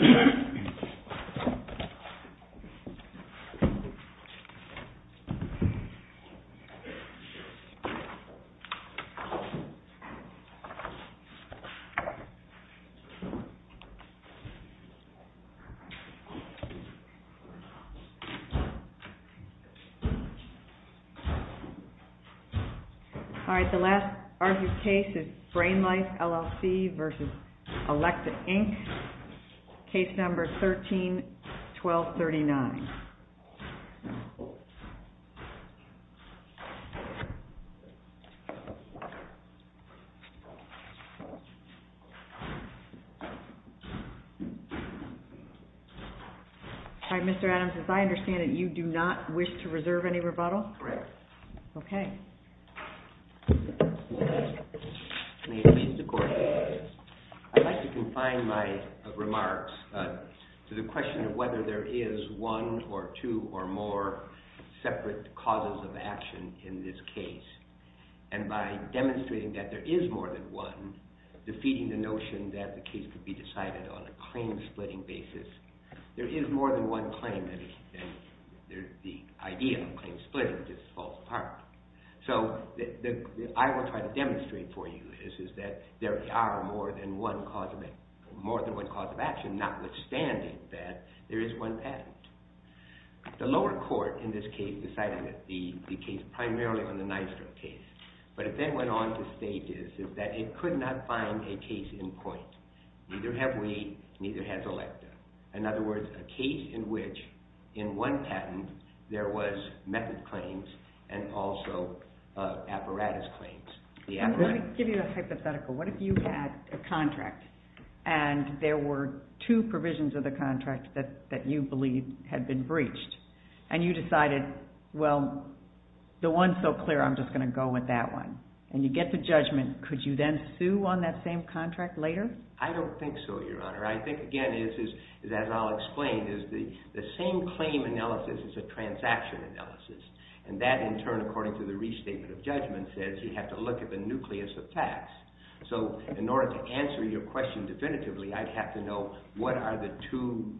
All right, the last argued case is Brain Life, LLC versus Alexa, Inc. Case number 13-1239. All right, Mr. Adams, as I understand it, you do not wish to reserve any rebuttal? Correct. Okay. May it please the court. I'd like to confine my remarks to the question of whether there is one or two or more separate causes of action in this case. And by demonstrating that there is more than one, defeating the notion that the case could be decided on a claim-splitting basis, there is more than one claim, and the idea of claim-splitting just falls apart. So what I will try to demonstrate for you is that there are more than one cause of action, notwithstanding that there is one patent. The lower court in this case decided the case primarily on the Nystrom case, but it then went on to stages that it could not find a case in point. Neither have we, neither has Alexa. In other words, a case in which, in one patent, there was method claims and also apparatus claims. Let me give you a hypothetical. What if you had a contract and there were two provisions of the contract that you believed had been breached, and you decided, well, the one's so clear, I'm just going to go with that one, and you get to judgment. Could you then sue on that same contract later? I don't think so, Your Honor. I think, again, as I'll explain, is the same claim analysis is a transaction analysis, and that, in turn, according to the restatement of judgment, says you have to look at the nucleus of facts. In order to answer your question definitively, I'd have to know what are the two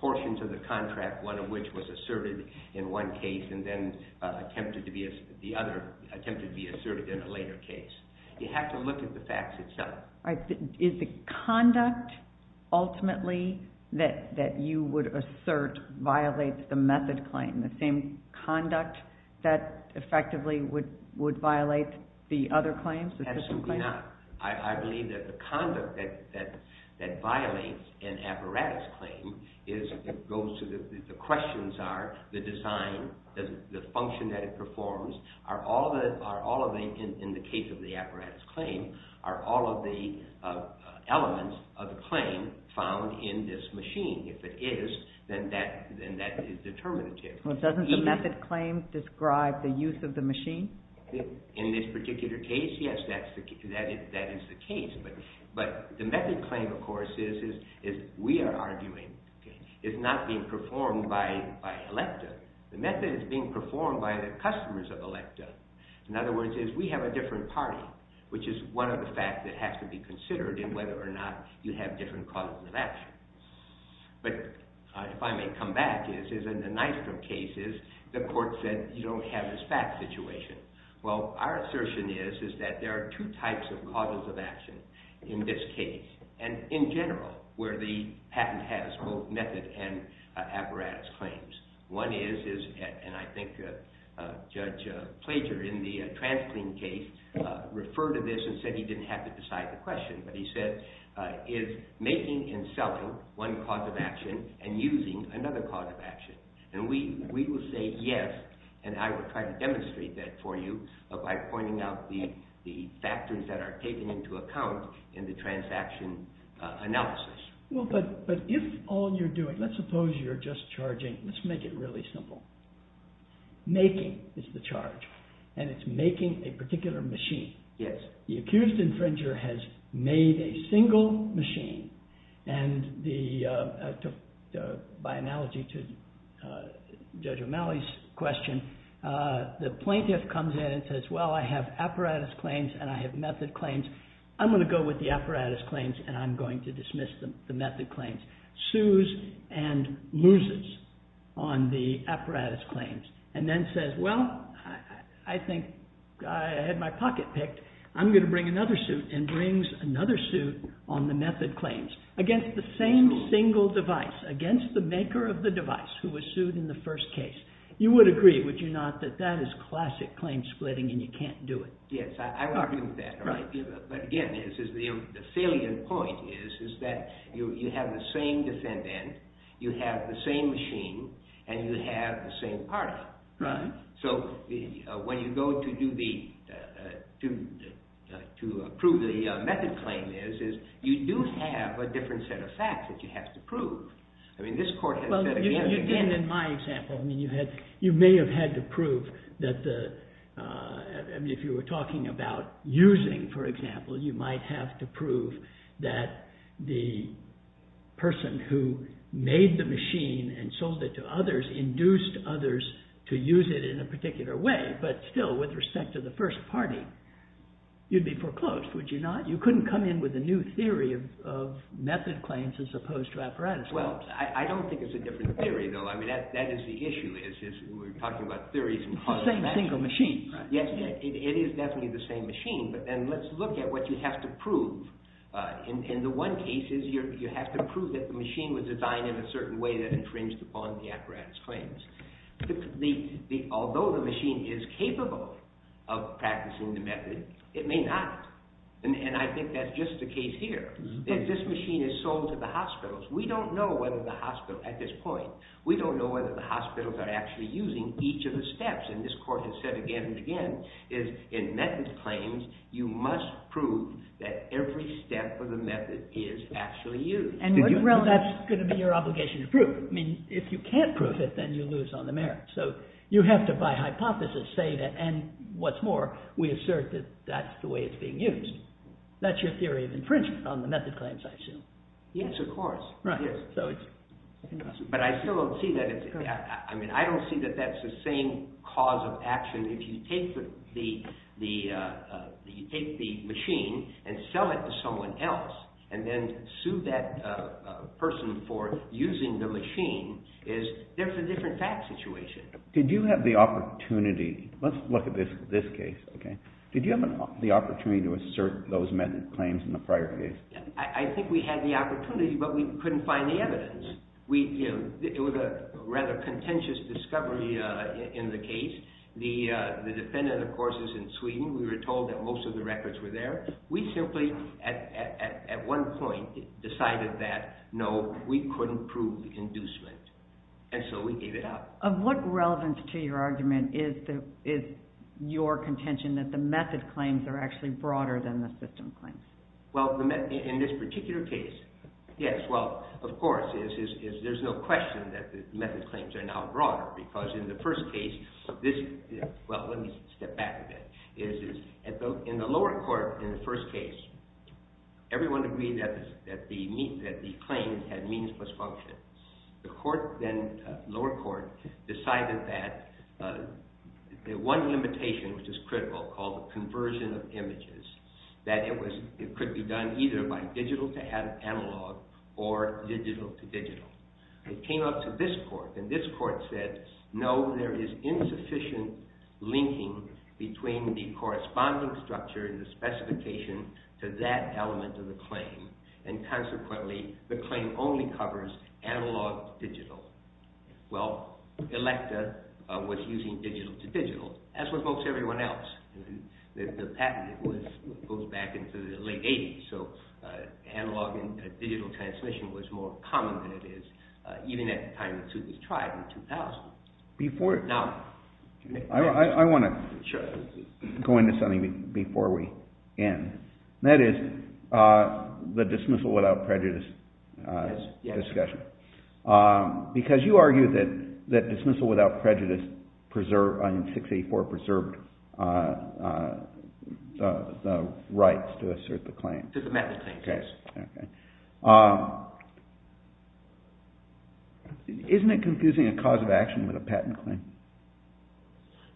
portions of the contract, one of which was asserted in one case and then attempted to be asserted in a later case. You have to look at the facts itself. Is the conduct, ultimately, that you would assert violates the method claim, the same conduct that effectively would violate the other claims? Absolutely not. I believe that the conduct that violates an apparatus claim goes to the questions are the design, the function that it performs. Are all of the, in the case of the apparatus claim, are all of the elements of the claim found in this machine? If it is, then that is determinative. Doesn't the method claim describe the use of the machine? In this particular case, yes, that is the case, but the method claim, of course, is, we are arguing, is not being performed by electa. The method is being performed by the customers of electa. In other words, we have a different party, which is one of the facts that has to be considered in whether or not you have different causes of action. But, if I may come back, in the Nystrom case, the court said you don't have this fact situation. Well, our assertion is that there are two types of causes of action in this case, and in general, where the patent has both method and apparatus claims. One is, and I think Judge Plager, in the TransClean case, referred to this and said he didn't have to decide the question, but he said, is making and selling one cause of action and using another cause of action? And we will say yes, and I will try to demonstrate that for you by pointing out the factors that are taken into account in the transaction analysis. Well, but if all you're doing, let's suppose you're just charging, let's make it really simple. Making is the charge, and it's making a particular machine. Yes. The accused infringer has made a single machine, and by analogy to Judge O'Malley's question, the plaintiff comes in and says, well, I have apparatus claims, and I have method claims. I'm going to go with the apparatus claims, and I'm going to dismiss the method claims. Sues and loses on the apparatus claims, and then says, well, I think I had my pocket picked. I'm going to bring another suit, and brings another suit on the method claims against the same single device, against the maker of the device who was sued in the first case. You would agree, would you not, that that is classic claim splitting, and you can't do it? Yes, I would agree with that. Right. But again, the salient point is that you have the same defendant, you have the same machine, and you have the same party. Right. So when you go to approve the method claim, you do have a different set of facts that you have to prove. Well, you did in my example. I mean, you may have had to prove that if you were talking about using, for example, you might have to prove that the person who made the machine and sold it to others induced others to use it in a particular way. But still, with respect to the first party, you'd be foreclosed, would you not? You couldn't come in with a new theory of method claims as opposed to apparatus claims. Well, I don't think it's a different theory, though. I mean, that is the issue, is we're talking about theories. It's the same single machine, right? Yes, it is definitely the same machine. But then let's look at what you have to prove. In the one cases, you have to prove that the machine was designed in a certain way that infringed upon the apparatus claims. Although the machine is capable of practicing the method, it may not. And I think that's just the case here. If this machine is sold to the hospitals, we don't know whether the hospital, at this point, we don't know whether the hospitals are actually using each of the steps. And this court has said again and again, is in method claims, you must prove that every step of the method is actually used. Well, that's going to be your obligation to prove. I mean, if you can't prove it, then you lose on the merits. So you have to, by hypothesis, say that, and what's more, we assert that that's the way it's being used. That's your theory of infringement on the method claims, I assume. Yes, of course. Right. But I still don't see that. I mean, I don't see that that's the same cause of action. If you take the machine and sell it to someone else and then sue that person for using the machine, there's a different fact situation. Did you have the opportunity? Let's look at this case. Did you have the opportunity to assert those method claims in the prior case? I think we had the opportunity, but we couldn't find the evidence. It was a rather contentious discovery in the case. The defendant, of course, is in Sweden. We were told that most of the records were there. We simply, at one point, decided that, no, we couldn't prove inducement, and so we gave it up. Of what relevance to your argument is your contention that the method claims are actually broader than the system claims? Well, in this particular case, yes. Well, of course, there's no question that the method claims are now broader, because in the first case, well, let me step back a bit. In the lower court in the first case, everyone agreed that the claim had means plus function. The lower court decided that one limitation, which is critical, called the conversion of images, that it could be done either by digital to analog or digital to digital. It came up to this court, and this court said, no, there is insufficient linking between the corresponding structure and the specification to that element of the claim, and consequently, the claim only covers analog to digital. Well, Electa was using digital to digital, as was most everyone else. The patent goes back into the late 80s, so analog and digital translation was more common than it is, even at the time the suit was tried in 2000. I want to go into something before we end, and that is the dismissal without prejudice discussion. Because you argue that dismissal without prejudice in 684 preserved the rights to assert the claim. To the method claims, yes. Isn't it confusing a cause of action with a patent claim?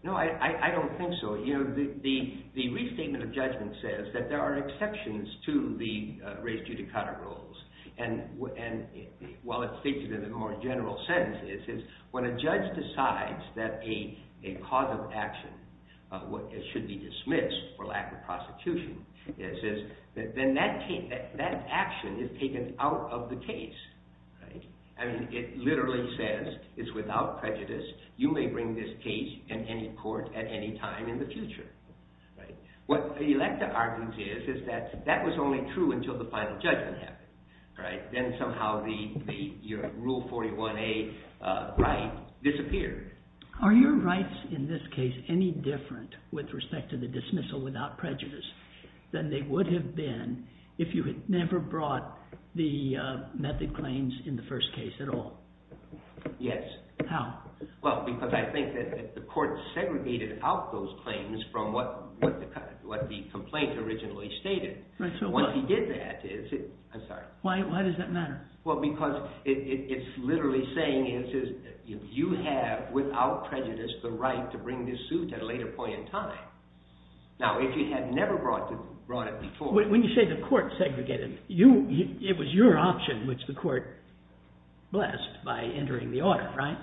No, I don't think so. The restatement of judgment says that there are exceptions to the race judicata rules, and while it speaks to the more general sentences, when a judge decides that a cause of action should be dismissed for lack of prosecution, then that action is taken out of the case. It literally says it's without prejudice. You may bring this case in any court at any time in the future. What Electa argues is that that was only true until the final judgment happened. Then somehow the rule 41A right disappeared. Are your rights in this case any different with respect to the dismissal without prejudice than they would have been if you had never brought the method claims in the first case at all? Yes. How? Well, because I think that the court segregated out those claims from what the complaint originally stated. Once you get that, it's – I'm sorry. Why does that matter? Well, because it's literally saying you have, without prejudice, the right to bring this suit at a later point in time. Now, if you had never brought it before – When you say the court segregated, it was your option, which the court blessed by entering the order, right?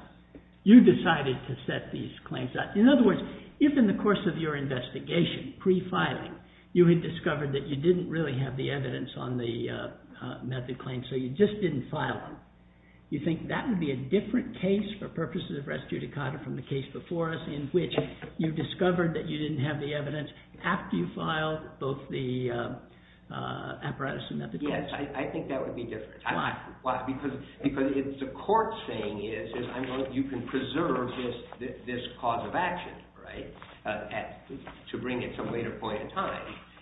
You decided to set these claims up. In other words, if in the course of your investigation, pre-filing, you had discovered that you didn't really have the evidence on the method claims, so you just didn't file them, you think that would be a different case for purposes of res judicata from the case before us in which you discovered that you didn't have the evidence after you filed both the apparatus and method claims? Yes, I think that would be different. Why? Because the court's saying is you can preserve this cause of action, right, to bring it to a later point in time.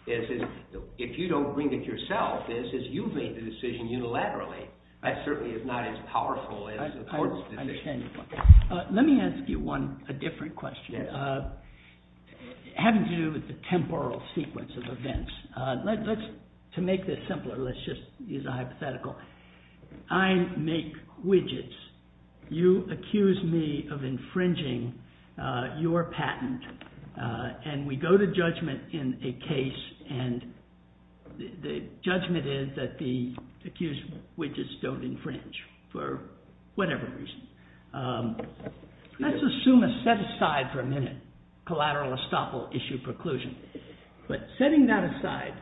If you don't bring it yourself, as you've made the decision unilaterally, that certainly is not as powerful as the court's decision. I understand your point. Let me ask you one – a different question having to do with the temporal sequence of events. Let's – to make this simpler, let's just use a hypothetical. I make widgets. You accuse me of infringing your patent, and we go to judgment in a case, and the judgment is that the accused widgets don't infringe for whatever reason. Let's assume a set-aside for a minute, collateral estoppel issue preclusion. But setting that aside,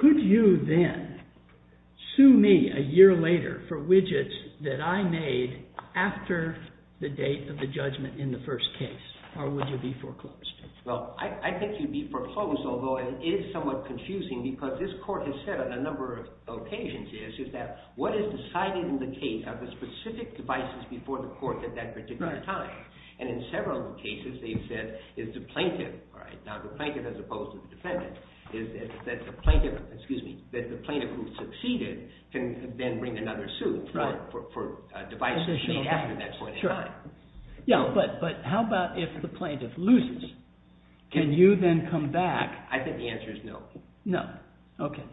could you then sue me a year later for widgets that I made after the date of the judgment in the first case, or would you be foreclosed? Well, I think you'd be foreclosed, although it is somewhat confusing because this court has said on a number of occasions is that what is decided in the case are the specific devices before the court at that particular time. And in several cases, they've said it's the plaintiff. Now, the plaintiff, as opposed to the defendant, is that the plaintiff who succeeded can then bring another suit for devices made after that point in time. Yeah, but how about if the plaintiff loses? Can you then come back? I think the answer is no. No. Okay.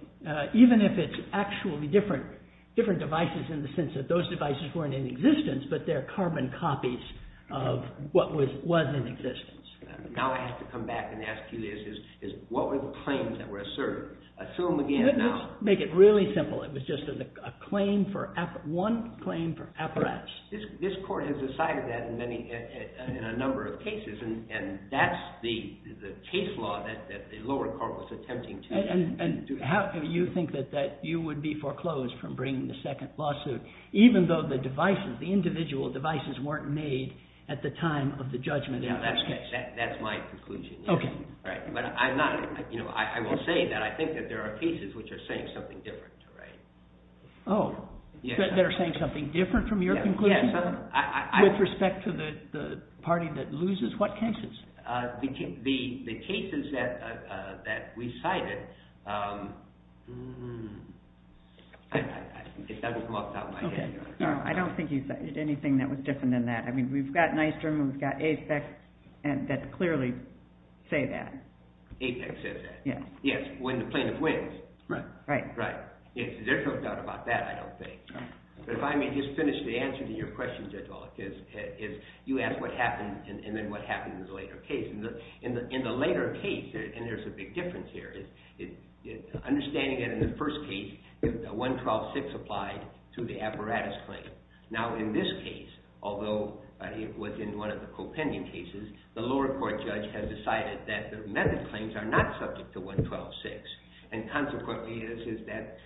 Even if it's actually different devices in the sense that those devices weren't in existence, but they're carbon copies of what was in existence. Now I have to come back and ask you this. What were the claims that were asserted? Assume again now. Let me just make it really simple. It was just one claim for apparatus. This court has decided that in a number of cases, and that's the case law that the lower court was attempting to. And how do you think that you would be foreclosed from bringing the second lawsuit, even though the devices, the individual devices, weren't made at the time of the judgment in the first case? That's my conclusion. Okay. But I will say that I think that there are cases which are saying something different. Oh, that are saying something different from your conclusion? Yes. With respect to the party that loses, what cases? The cases that we cited, it doesn't go off the top of my head. I don't think you cited anything that was different than that. I mean, we've got Nystrom and we've got Apex that clearly say that. Apex says that. Yes. Yes, when the plaintiff wins. Right. Right. There's no doubt about that, I don't think. But if I may just finish the answer to your question, Judge Olick, is you asked what happened and then what happened in the later case. In the later case, and there's a big difference here, understanding that in the first case, 112-6 applied to the apparatus claim. Now, in this case, although it was in one of the co-pending cases, the lower court judge has decided that the method claims are not subject to 112-6. And consequently, this is that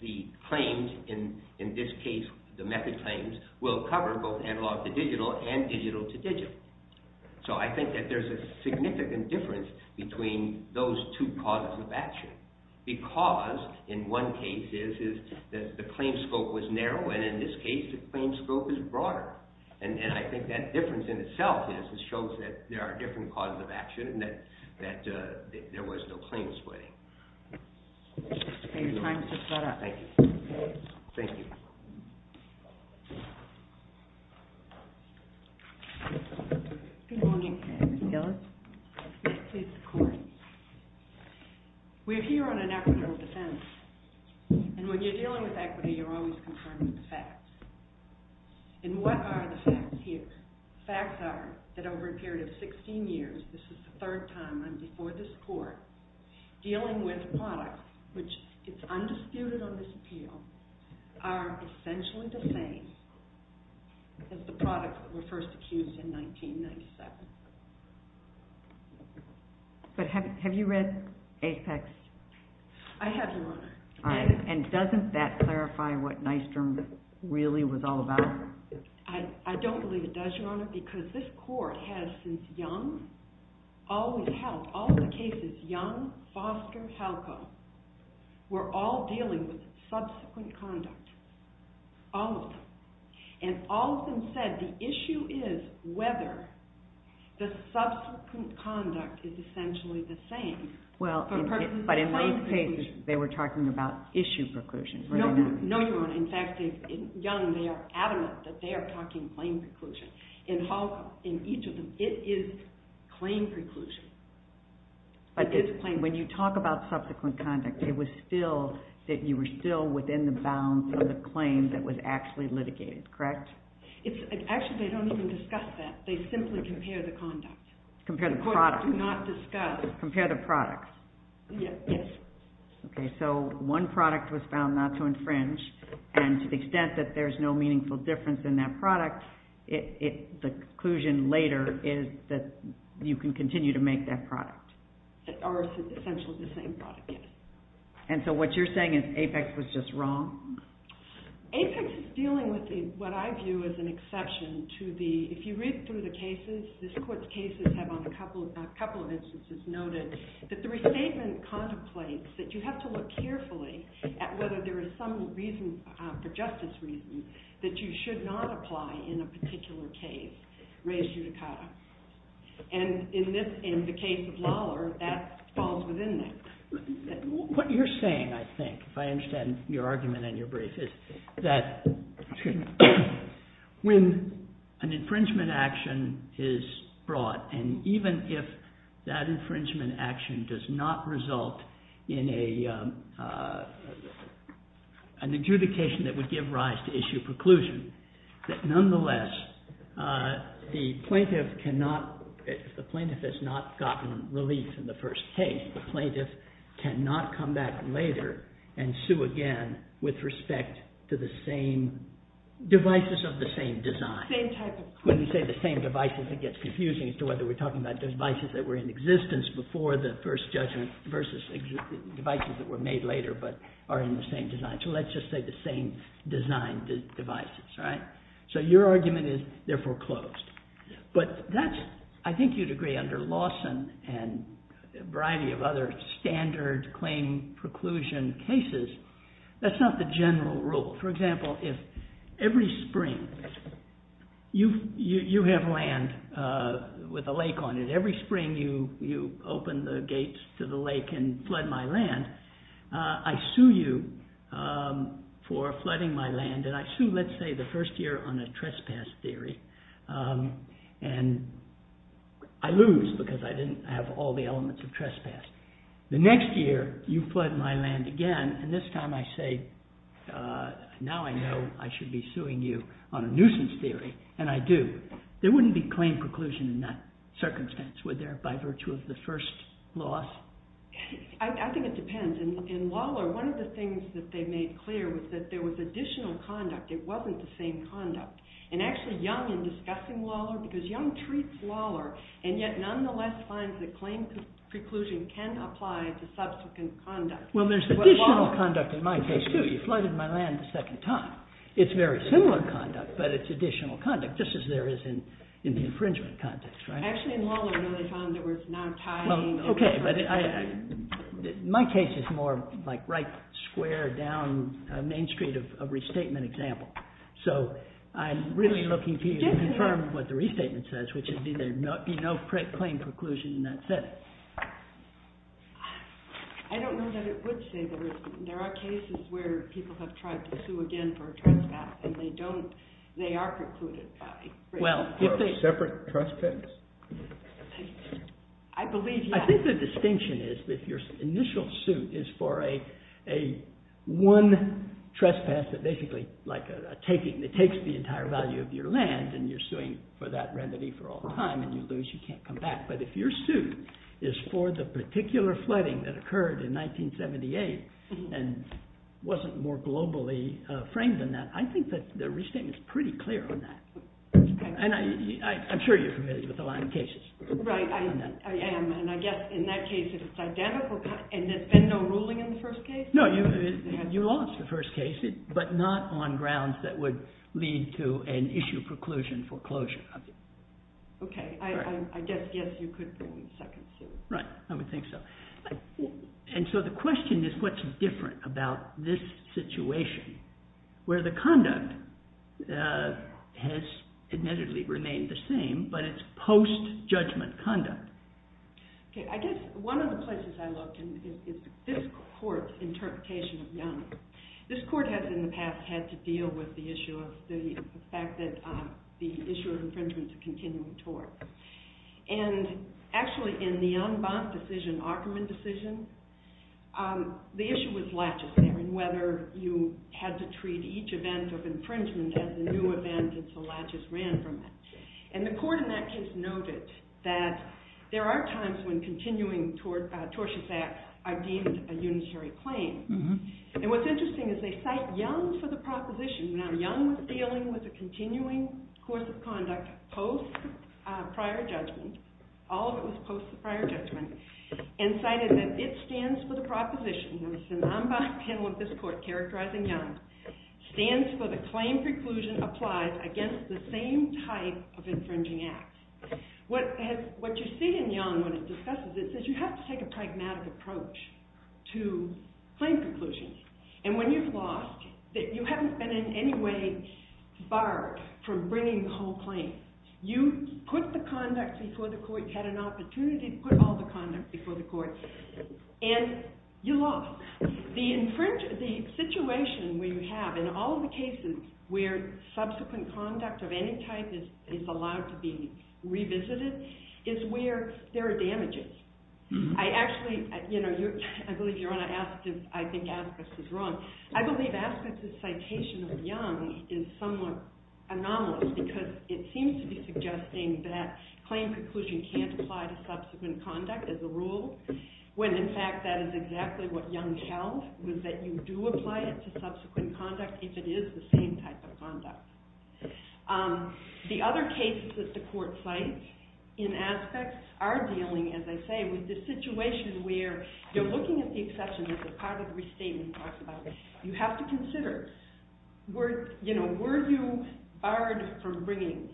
the claims in this case, the method claims, will cover both analog to digital and digital to digital. So I think that there's a significant difference between those two causes of action. Because in one case, the claim scope was narrow, and in this case, the claim scope is broader. And I think that difference in itself is it shows that there are different causes of action and that there was no claim splitting. Okay, your time has just run out. Thank you. Thank you. Good morning. Ms. Gillis? Yes, please, the court. We're here on an equitable defense. And when you're dealing with equity, you're always concerned with the facts. And what are the facts here? The facts are that over a period of 16 years, this is the third time I'm before this court, dealing with products, which is undisputed on this appeal, are essentially the same as the products that were first accused in 1997. But have you read Apex? I have, Your Honor. All right. And doesn't that clarify what Nystrom really was all about? I don't believe it does, Your Honor, because this court has, since Young, always held, all of the cases, Young, Foster, Halco, were all dealing with subsequent conduct. All of them. And all of them said the issue is whether the subsequent conduct is essentially the same. But in these cases, they were talking about issue preclusion, were they not? No, Your Honor. In fact, in Young, they are adamant that they are talking claim preclusion. In Halco, in each of them, it is claim preclusion. But when you talk about subsequent conduct, it was still that you were still within the bounds of the claim that was actually litigated, correct? Actually, they don't even discuss that. They simply compare the conduct. Compare the product. The courts do not discuss. Compare the product. Yes. Okay. So one product was found not to infringe, and to the extent that there is no meaningful difference in that product, the conclusion later is that you can continue to make that product. Or essentially the same product, yes. And so what you're saying is Apex was just wrong? Apex is dealing with what I view as an exception to the, if you read through the cases, this court's cases have on a couple of instances noted that the restatement contemplates that you have to look carefully at whether there is some reason, for justice reasons, that you should not apply in a particular case, res judicata. And in the case of Lawler, that falls within that. What you're saying, I think, if I understand your argument and your brief, is that when an infringement action is brought, and even if that infringement action does not result in an adjudication that would give rise to issue preclusion, that nonetheless the plaintiff cannot, if the plaintiff has not gotten relief in the first case, the plaintiff cannot come back later and sue again with respect to the same devices of the same design. Same type of. When you say the same devices, it gets confusing as to whether we're talking about devices that were in existence before the first judgment versus devices that were made later but are in the same design. So let's just say the same design devices. So your argument is therefore closed. But I think you'd agree under Lawson and a variety of other standard claim preclusion cases, that's not the general rule. For example, if every spring you have land with a lake on it, every spring you open the gates to the lake and flood my land, I sue you for flooding my land, and I sue, let's say, the first year on a trespass theory, and I lose because I didn't have all the elements of trespass. The next year you flood my land again, and this time I say, now I know I should be suing you on a nuisance theory, and I do. There wouldn't be claim preclusion in that circumstance, would there, by virtue of the first loss? I think it depends. In Waller, one of the things that they made clear was that there was additional conduct. It wasn't the same conduct. And actually, Young, in discussing Waller, because Young treats Waller and yet nonetheless finds that claim preclusion can apply to subsequent conduct. Well, there's additional conduct in my case, too. You flooded my land a second time. It's very similar conduct, but it's additional conduct. Just as there is in the infringement context, right? Actually, in Waller, no, they found there was no tying. Well, okay, but my case is more like right square down Main Street of a restatement example. So I'm really looking to you to confirm what the restatement says, which is there'd be no claim preclusion in that setting. I don't know that it would say there is. There are cases where people have tried to sue again for a trespass, and they don't. They are precluded. Well, separate trespass? I believe, yeah. I think the distinction is that your initial suit is for a one trespass that basically, like a taking. It takes the entire value of your land, and you're suing for that remedy for all time, and you lose. You can't come back. But if your suit is for the particular flooding that occurred in 1978 and wasn't more globally framed than that, I think that the restatement is pretty clear on that, and I'm sure you're familiar with a lot of cases. Right, I am, and I guess in that case, it's identical, and there's been no ruling in the first case? No, you lost the first case, but not on grounds that would lead to an issue preclusion for closure. Okay, I guess, yes, you could bring in a second suit. Right, I would think so. And so the question is, what's different about this situation where the conduct has admittedly remained the same, but it's post-judgment conduct? Okay, I guess one of the places I look is this court's interpretation of Yama. This court has, in the past, had to deal with the issue of the fact that the issue of infringement is a continuing tort. And actually, in the en banc decision, Ackerman decision, the issue was laches there, and whether you had to treat each event of infringement as a new event, and so laches ran from it. And the court in that case noted that there are times when continuing tortious acts are deemed a unitary claim. And what's interesting is they cite Young for the proposition. Now, Young was dealing with a continuing course of conduct post-prior judgment, all of it was post-prior judgment, and cited that it stands for the proposition in the en banc panel of this court characterizing Young, stands for the claim preclusion applies against the same type of infringing act. What you see in Young when it discusses this is you have to take a pragmatic approach to claim preclusion. And when you've lost, you haven't been in any way barred from bringing the whole claim. You put the conduct before the court, you had an opportunity to put all the conduct before the court, and you lost. The situation we have in all the cases where subsequent conduct of any type is allowed to be revisited is where there are damages. I actually, I believe you're going to ask if I think Askus is wrong. I believe Askus' citation of Young is somewhat anomalous because it seems to be suggesting that claim preclusion can't apply to subsequent conduct as a rule, when in fact that is exactly what Young held, was that you do apply it to subsequent conduct if it is the same type of conduct. The other cases that the court cites in Aspects are dealing, as I say, with the situation where you're looking at the exception of the part of the restatement we talked about. You have to consider, were you barred from bringing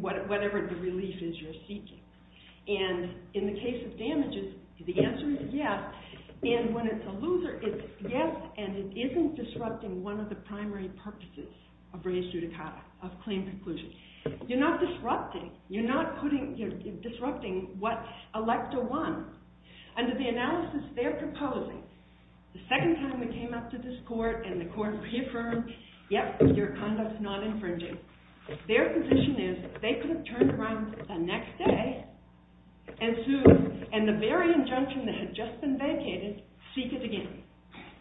whatever the relief is you're seeking? And in the case of damages, the answer is yes. And when it's a loser, it's yes and it isn't disrupting one of the primary purposes of res judicata, of claim preclusion. You're not disrupting, you're not putting, you're disrupting what Electa won. Under the analysis they're proposing, the second time we came up to this court and the court reaffirmed, yep, your conduct's not infringing. Their position is they could have turned around the next day and sued, and the very injunction that had just been vacated, seek it again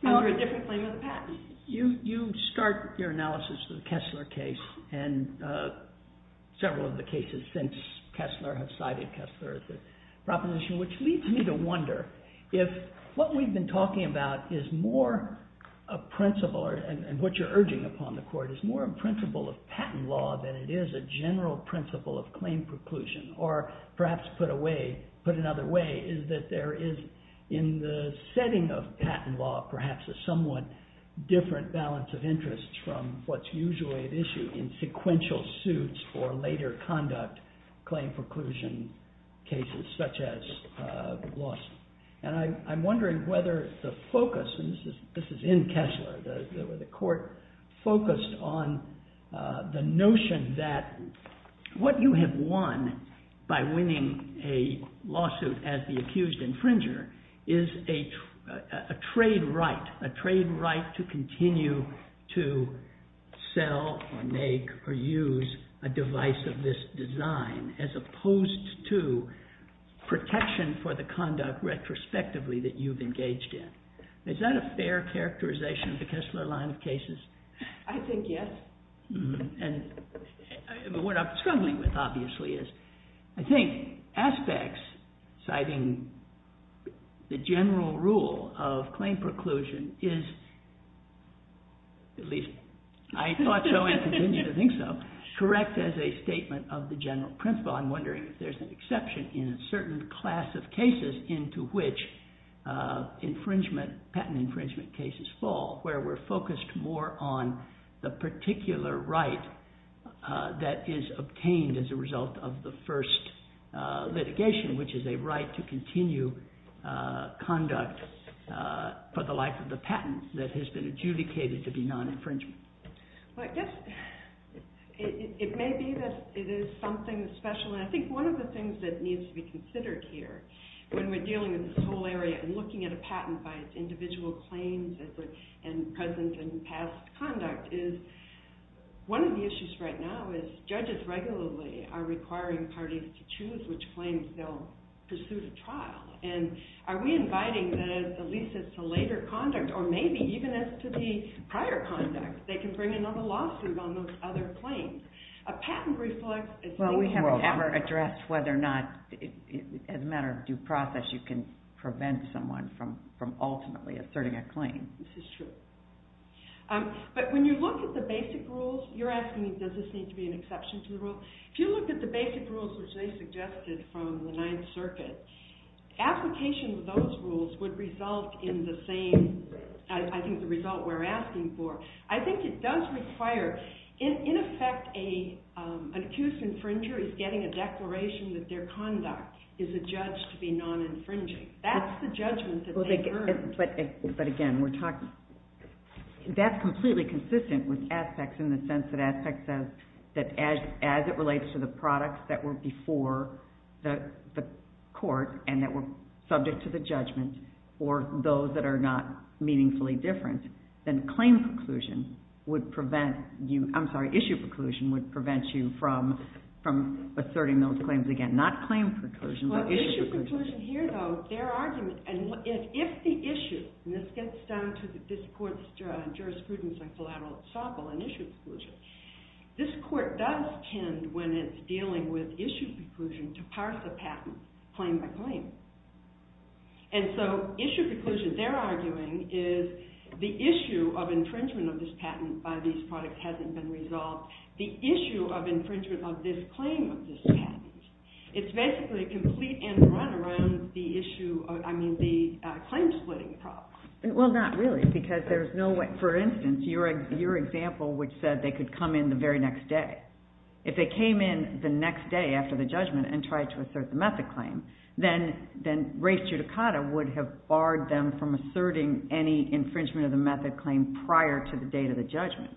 under a different claim of the patent. You start your analysis of the Kessler case and several of the cases since Kessler have cited Kessler as a proposition, which leads me to wonder if what we've been talking about is more a principle, and what you're urging upon the court, is more a principle of patent law than it is a general principle of claim preclusion. Or perhaps put another way, is that there is, in the setting of patent law, perhaps a somewhat different balance of interests from what's usually at issue in sequential suits for later conduct claim preclusion cases, such as the Blossom. And I'm wondering whether the focus, and this is in Kessler, where the court focused on the notion that what you have won by winning a lawsuit as the accused infringer, is a trade right, a trade right to continue to sell, or make, or use a device of this design, as opposed to protection for the conduct retrospectively that you've engaged in. Is that a fair characterization of the Kessler line of cases? I think yes. And what I'm struggling with, obviously, is I think aspects citing the general rule of claim preclusion is, at least I thought so and continue to think so, correct as a statement of the general principle. So I'm wondering if there's an exception in a certain class of cases into which infringement, patent infringement cases fall, where we're focused more on the particular right that is obtained as a result of the first litigation, which is a right to continue conduct for the life of the patent that has been adjudicated to be non-infringement. Well, I guess it may be that it is something special. And I think one of the things that needs to be considered here, when we're dealing with this whole area and looking at a patent by its individual claims and present and past conduct, is one of the issues right now is judges regularly are requiring parties to choose which claims they'll pursue to trial. And are we inviting this, at least as to later conduct, or maybe even as to the prior conduct? They can bring another lawsuit on those other claims. A patent reflects… Well, we haven't ever addressed whether or not, as a matter of due process, you can prevent someone from ultimately asserting a claim. This is true. But when you look at the basic rules, you're asking me, does this need to be an exception to the rule? If you look at the basic rules, which they suggested from the Ninth Circuit, application of those rules would result in the same, I think, the result we're asking for. I think it does require, in effect, an accused infringer is getting a declaration that their conduct is adjudged to be non-infringing. That's the judgment that they've earned. But again, we're talking… That's completely consistent with aspects in the sense that aspects says that as it relates to the products that were before the court and that were subject to the judgment, or those that are not meaningfully different, then claim preclusion would prevent you… I'm sorry, issue preclusion would prevent you from asserting those claims again. Not claim preclusion, but issue preclusion. Issue preclusion here, though, their argument… And if the issue, and this gets down to this court's jurisprudence on collateral and issue preclusion, this court does tend, when it's dealing with issue preclusion, to parse a patent claim by claim. And so issue preclusion, they're arguing, is the issue of infringement of this patent by these products hasn't been resolved. The issue of infringement of this claim of this patent. It's basically a complete end run around the issue, I mean, the claim splitting problem. Well, not really, because there's no way… For instance, your example, which said they could come in the very next day. If they came in the next day after the judgment and tried to assert the method claim, then race judicata would have barred them from asserting any infringement of the method claim prior to the date of the judgment.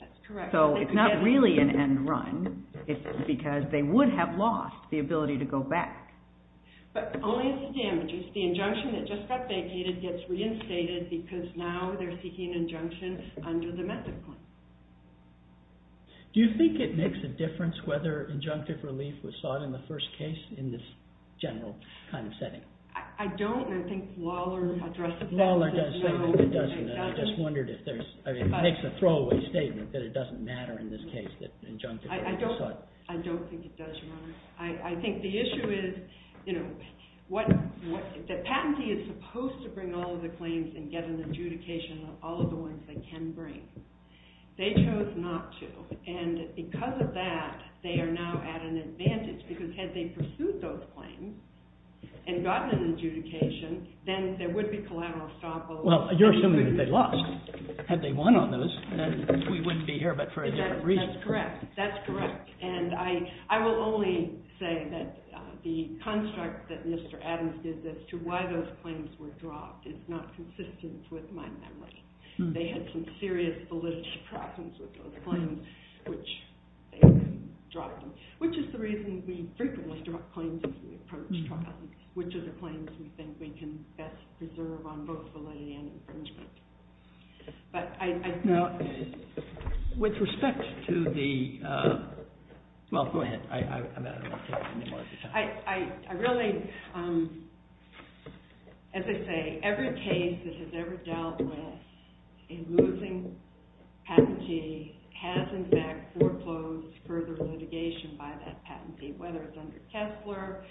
That's correct. So it's not really an end run. It's because they would have lost the ability to go back. But only as damages. The injunction that just got vacated gets reinstated because now they're seeking an injunction under the method claim. Do you think it makes a difference whether injunctive relief was sought in the first case in this general kind of setting? I don't, and I think Lawler addressed it. Lawler does say that it doesn't, and I just wondered if there's… I mean, it makes a throwaway statement that it doesn't matter in this case that injunctive relief was sought. I don't think it does, Your Honor. I think the issue is, you know, that patentee is supposed to bring all of the claims and get an adjudication on all of the ones they can bring. They chose not to, and because of that, they are now at an advantage, because had they pursued those claims and gotten an adjudication, then there would be collateral estoppel. Well, you're assuming that they lost. Had they won on those, then we wouldn't be here but for a different reason. That's correct. That's correct. And I will only say that the construct that Mr. Adams did as to why those claims were dropped is not consistent with my memory. They had some serious validity problems with those claims, which they dropped them, which is the reason we frequently drop claims as we approach trials, which are the claims we think we can best preserve on both validity and infringement. But I… Now, with respect to the… Well, go ahead. I'm not going to take any more of your time. I really… As I say, every case that has ever dealt with a losing patentee has, in fact, foreclosed further litigation by that patentee, whether it's under Kessler.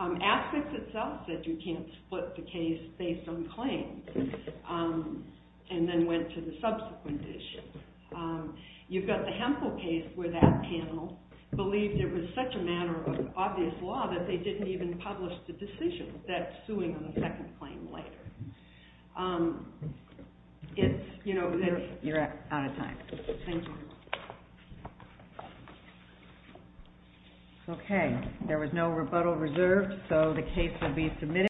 Asics itself said you can't split the case based on claims and then went to the subsequent issues. You've got the Hemphill case where that panel believed it was such a matter of obvious law that they didn't even publish the decision that's suing on the second claim later. You're out of time. Thank you. Okay, there was no rebuttal reserved, so the case will be submitted.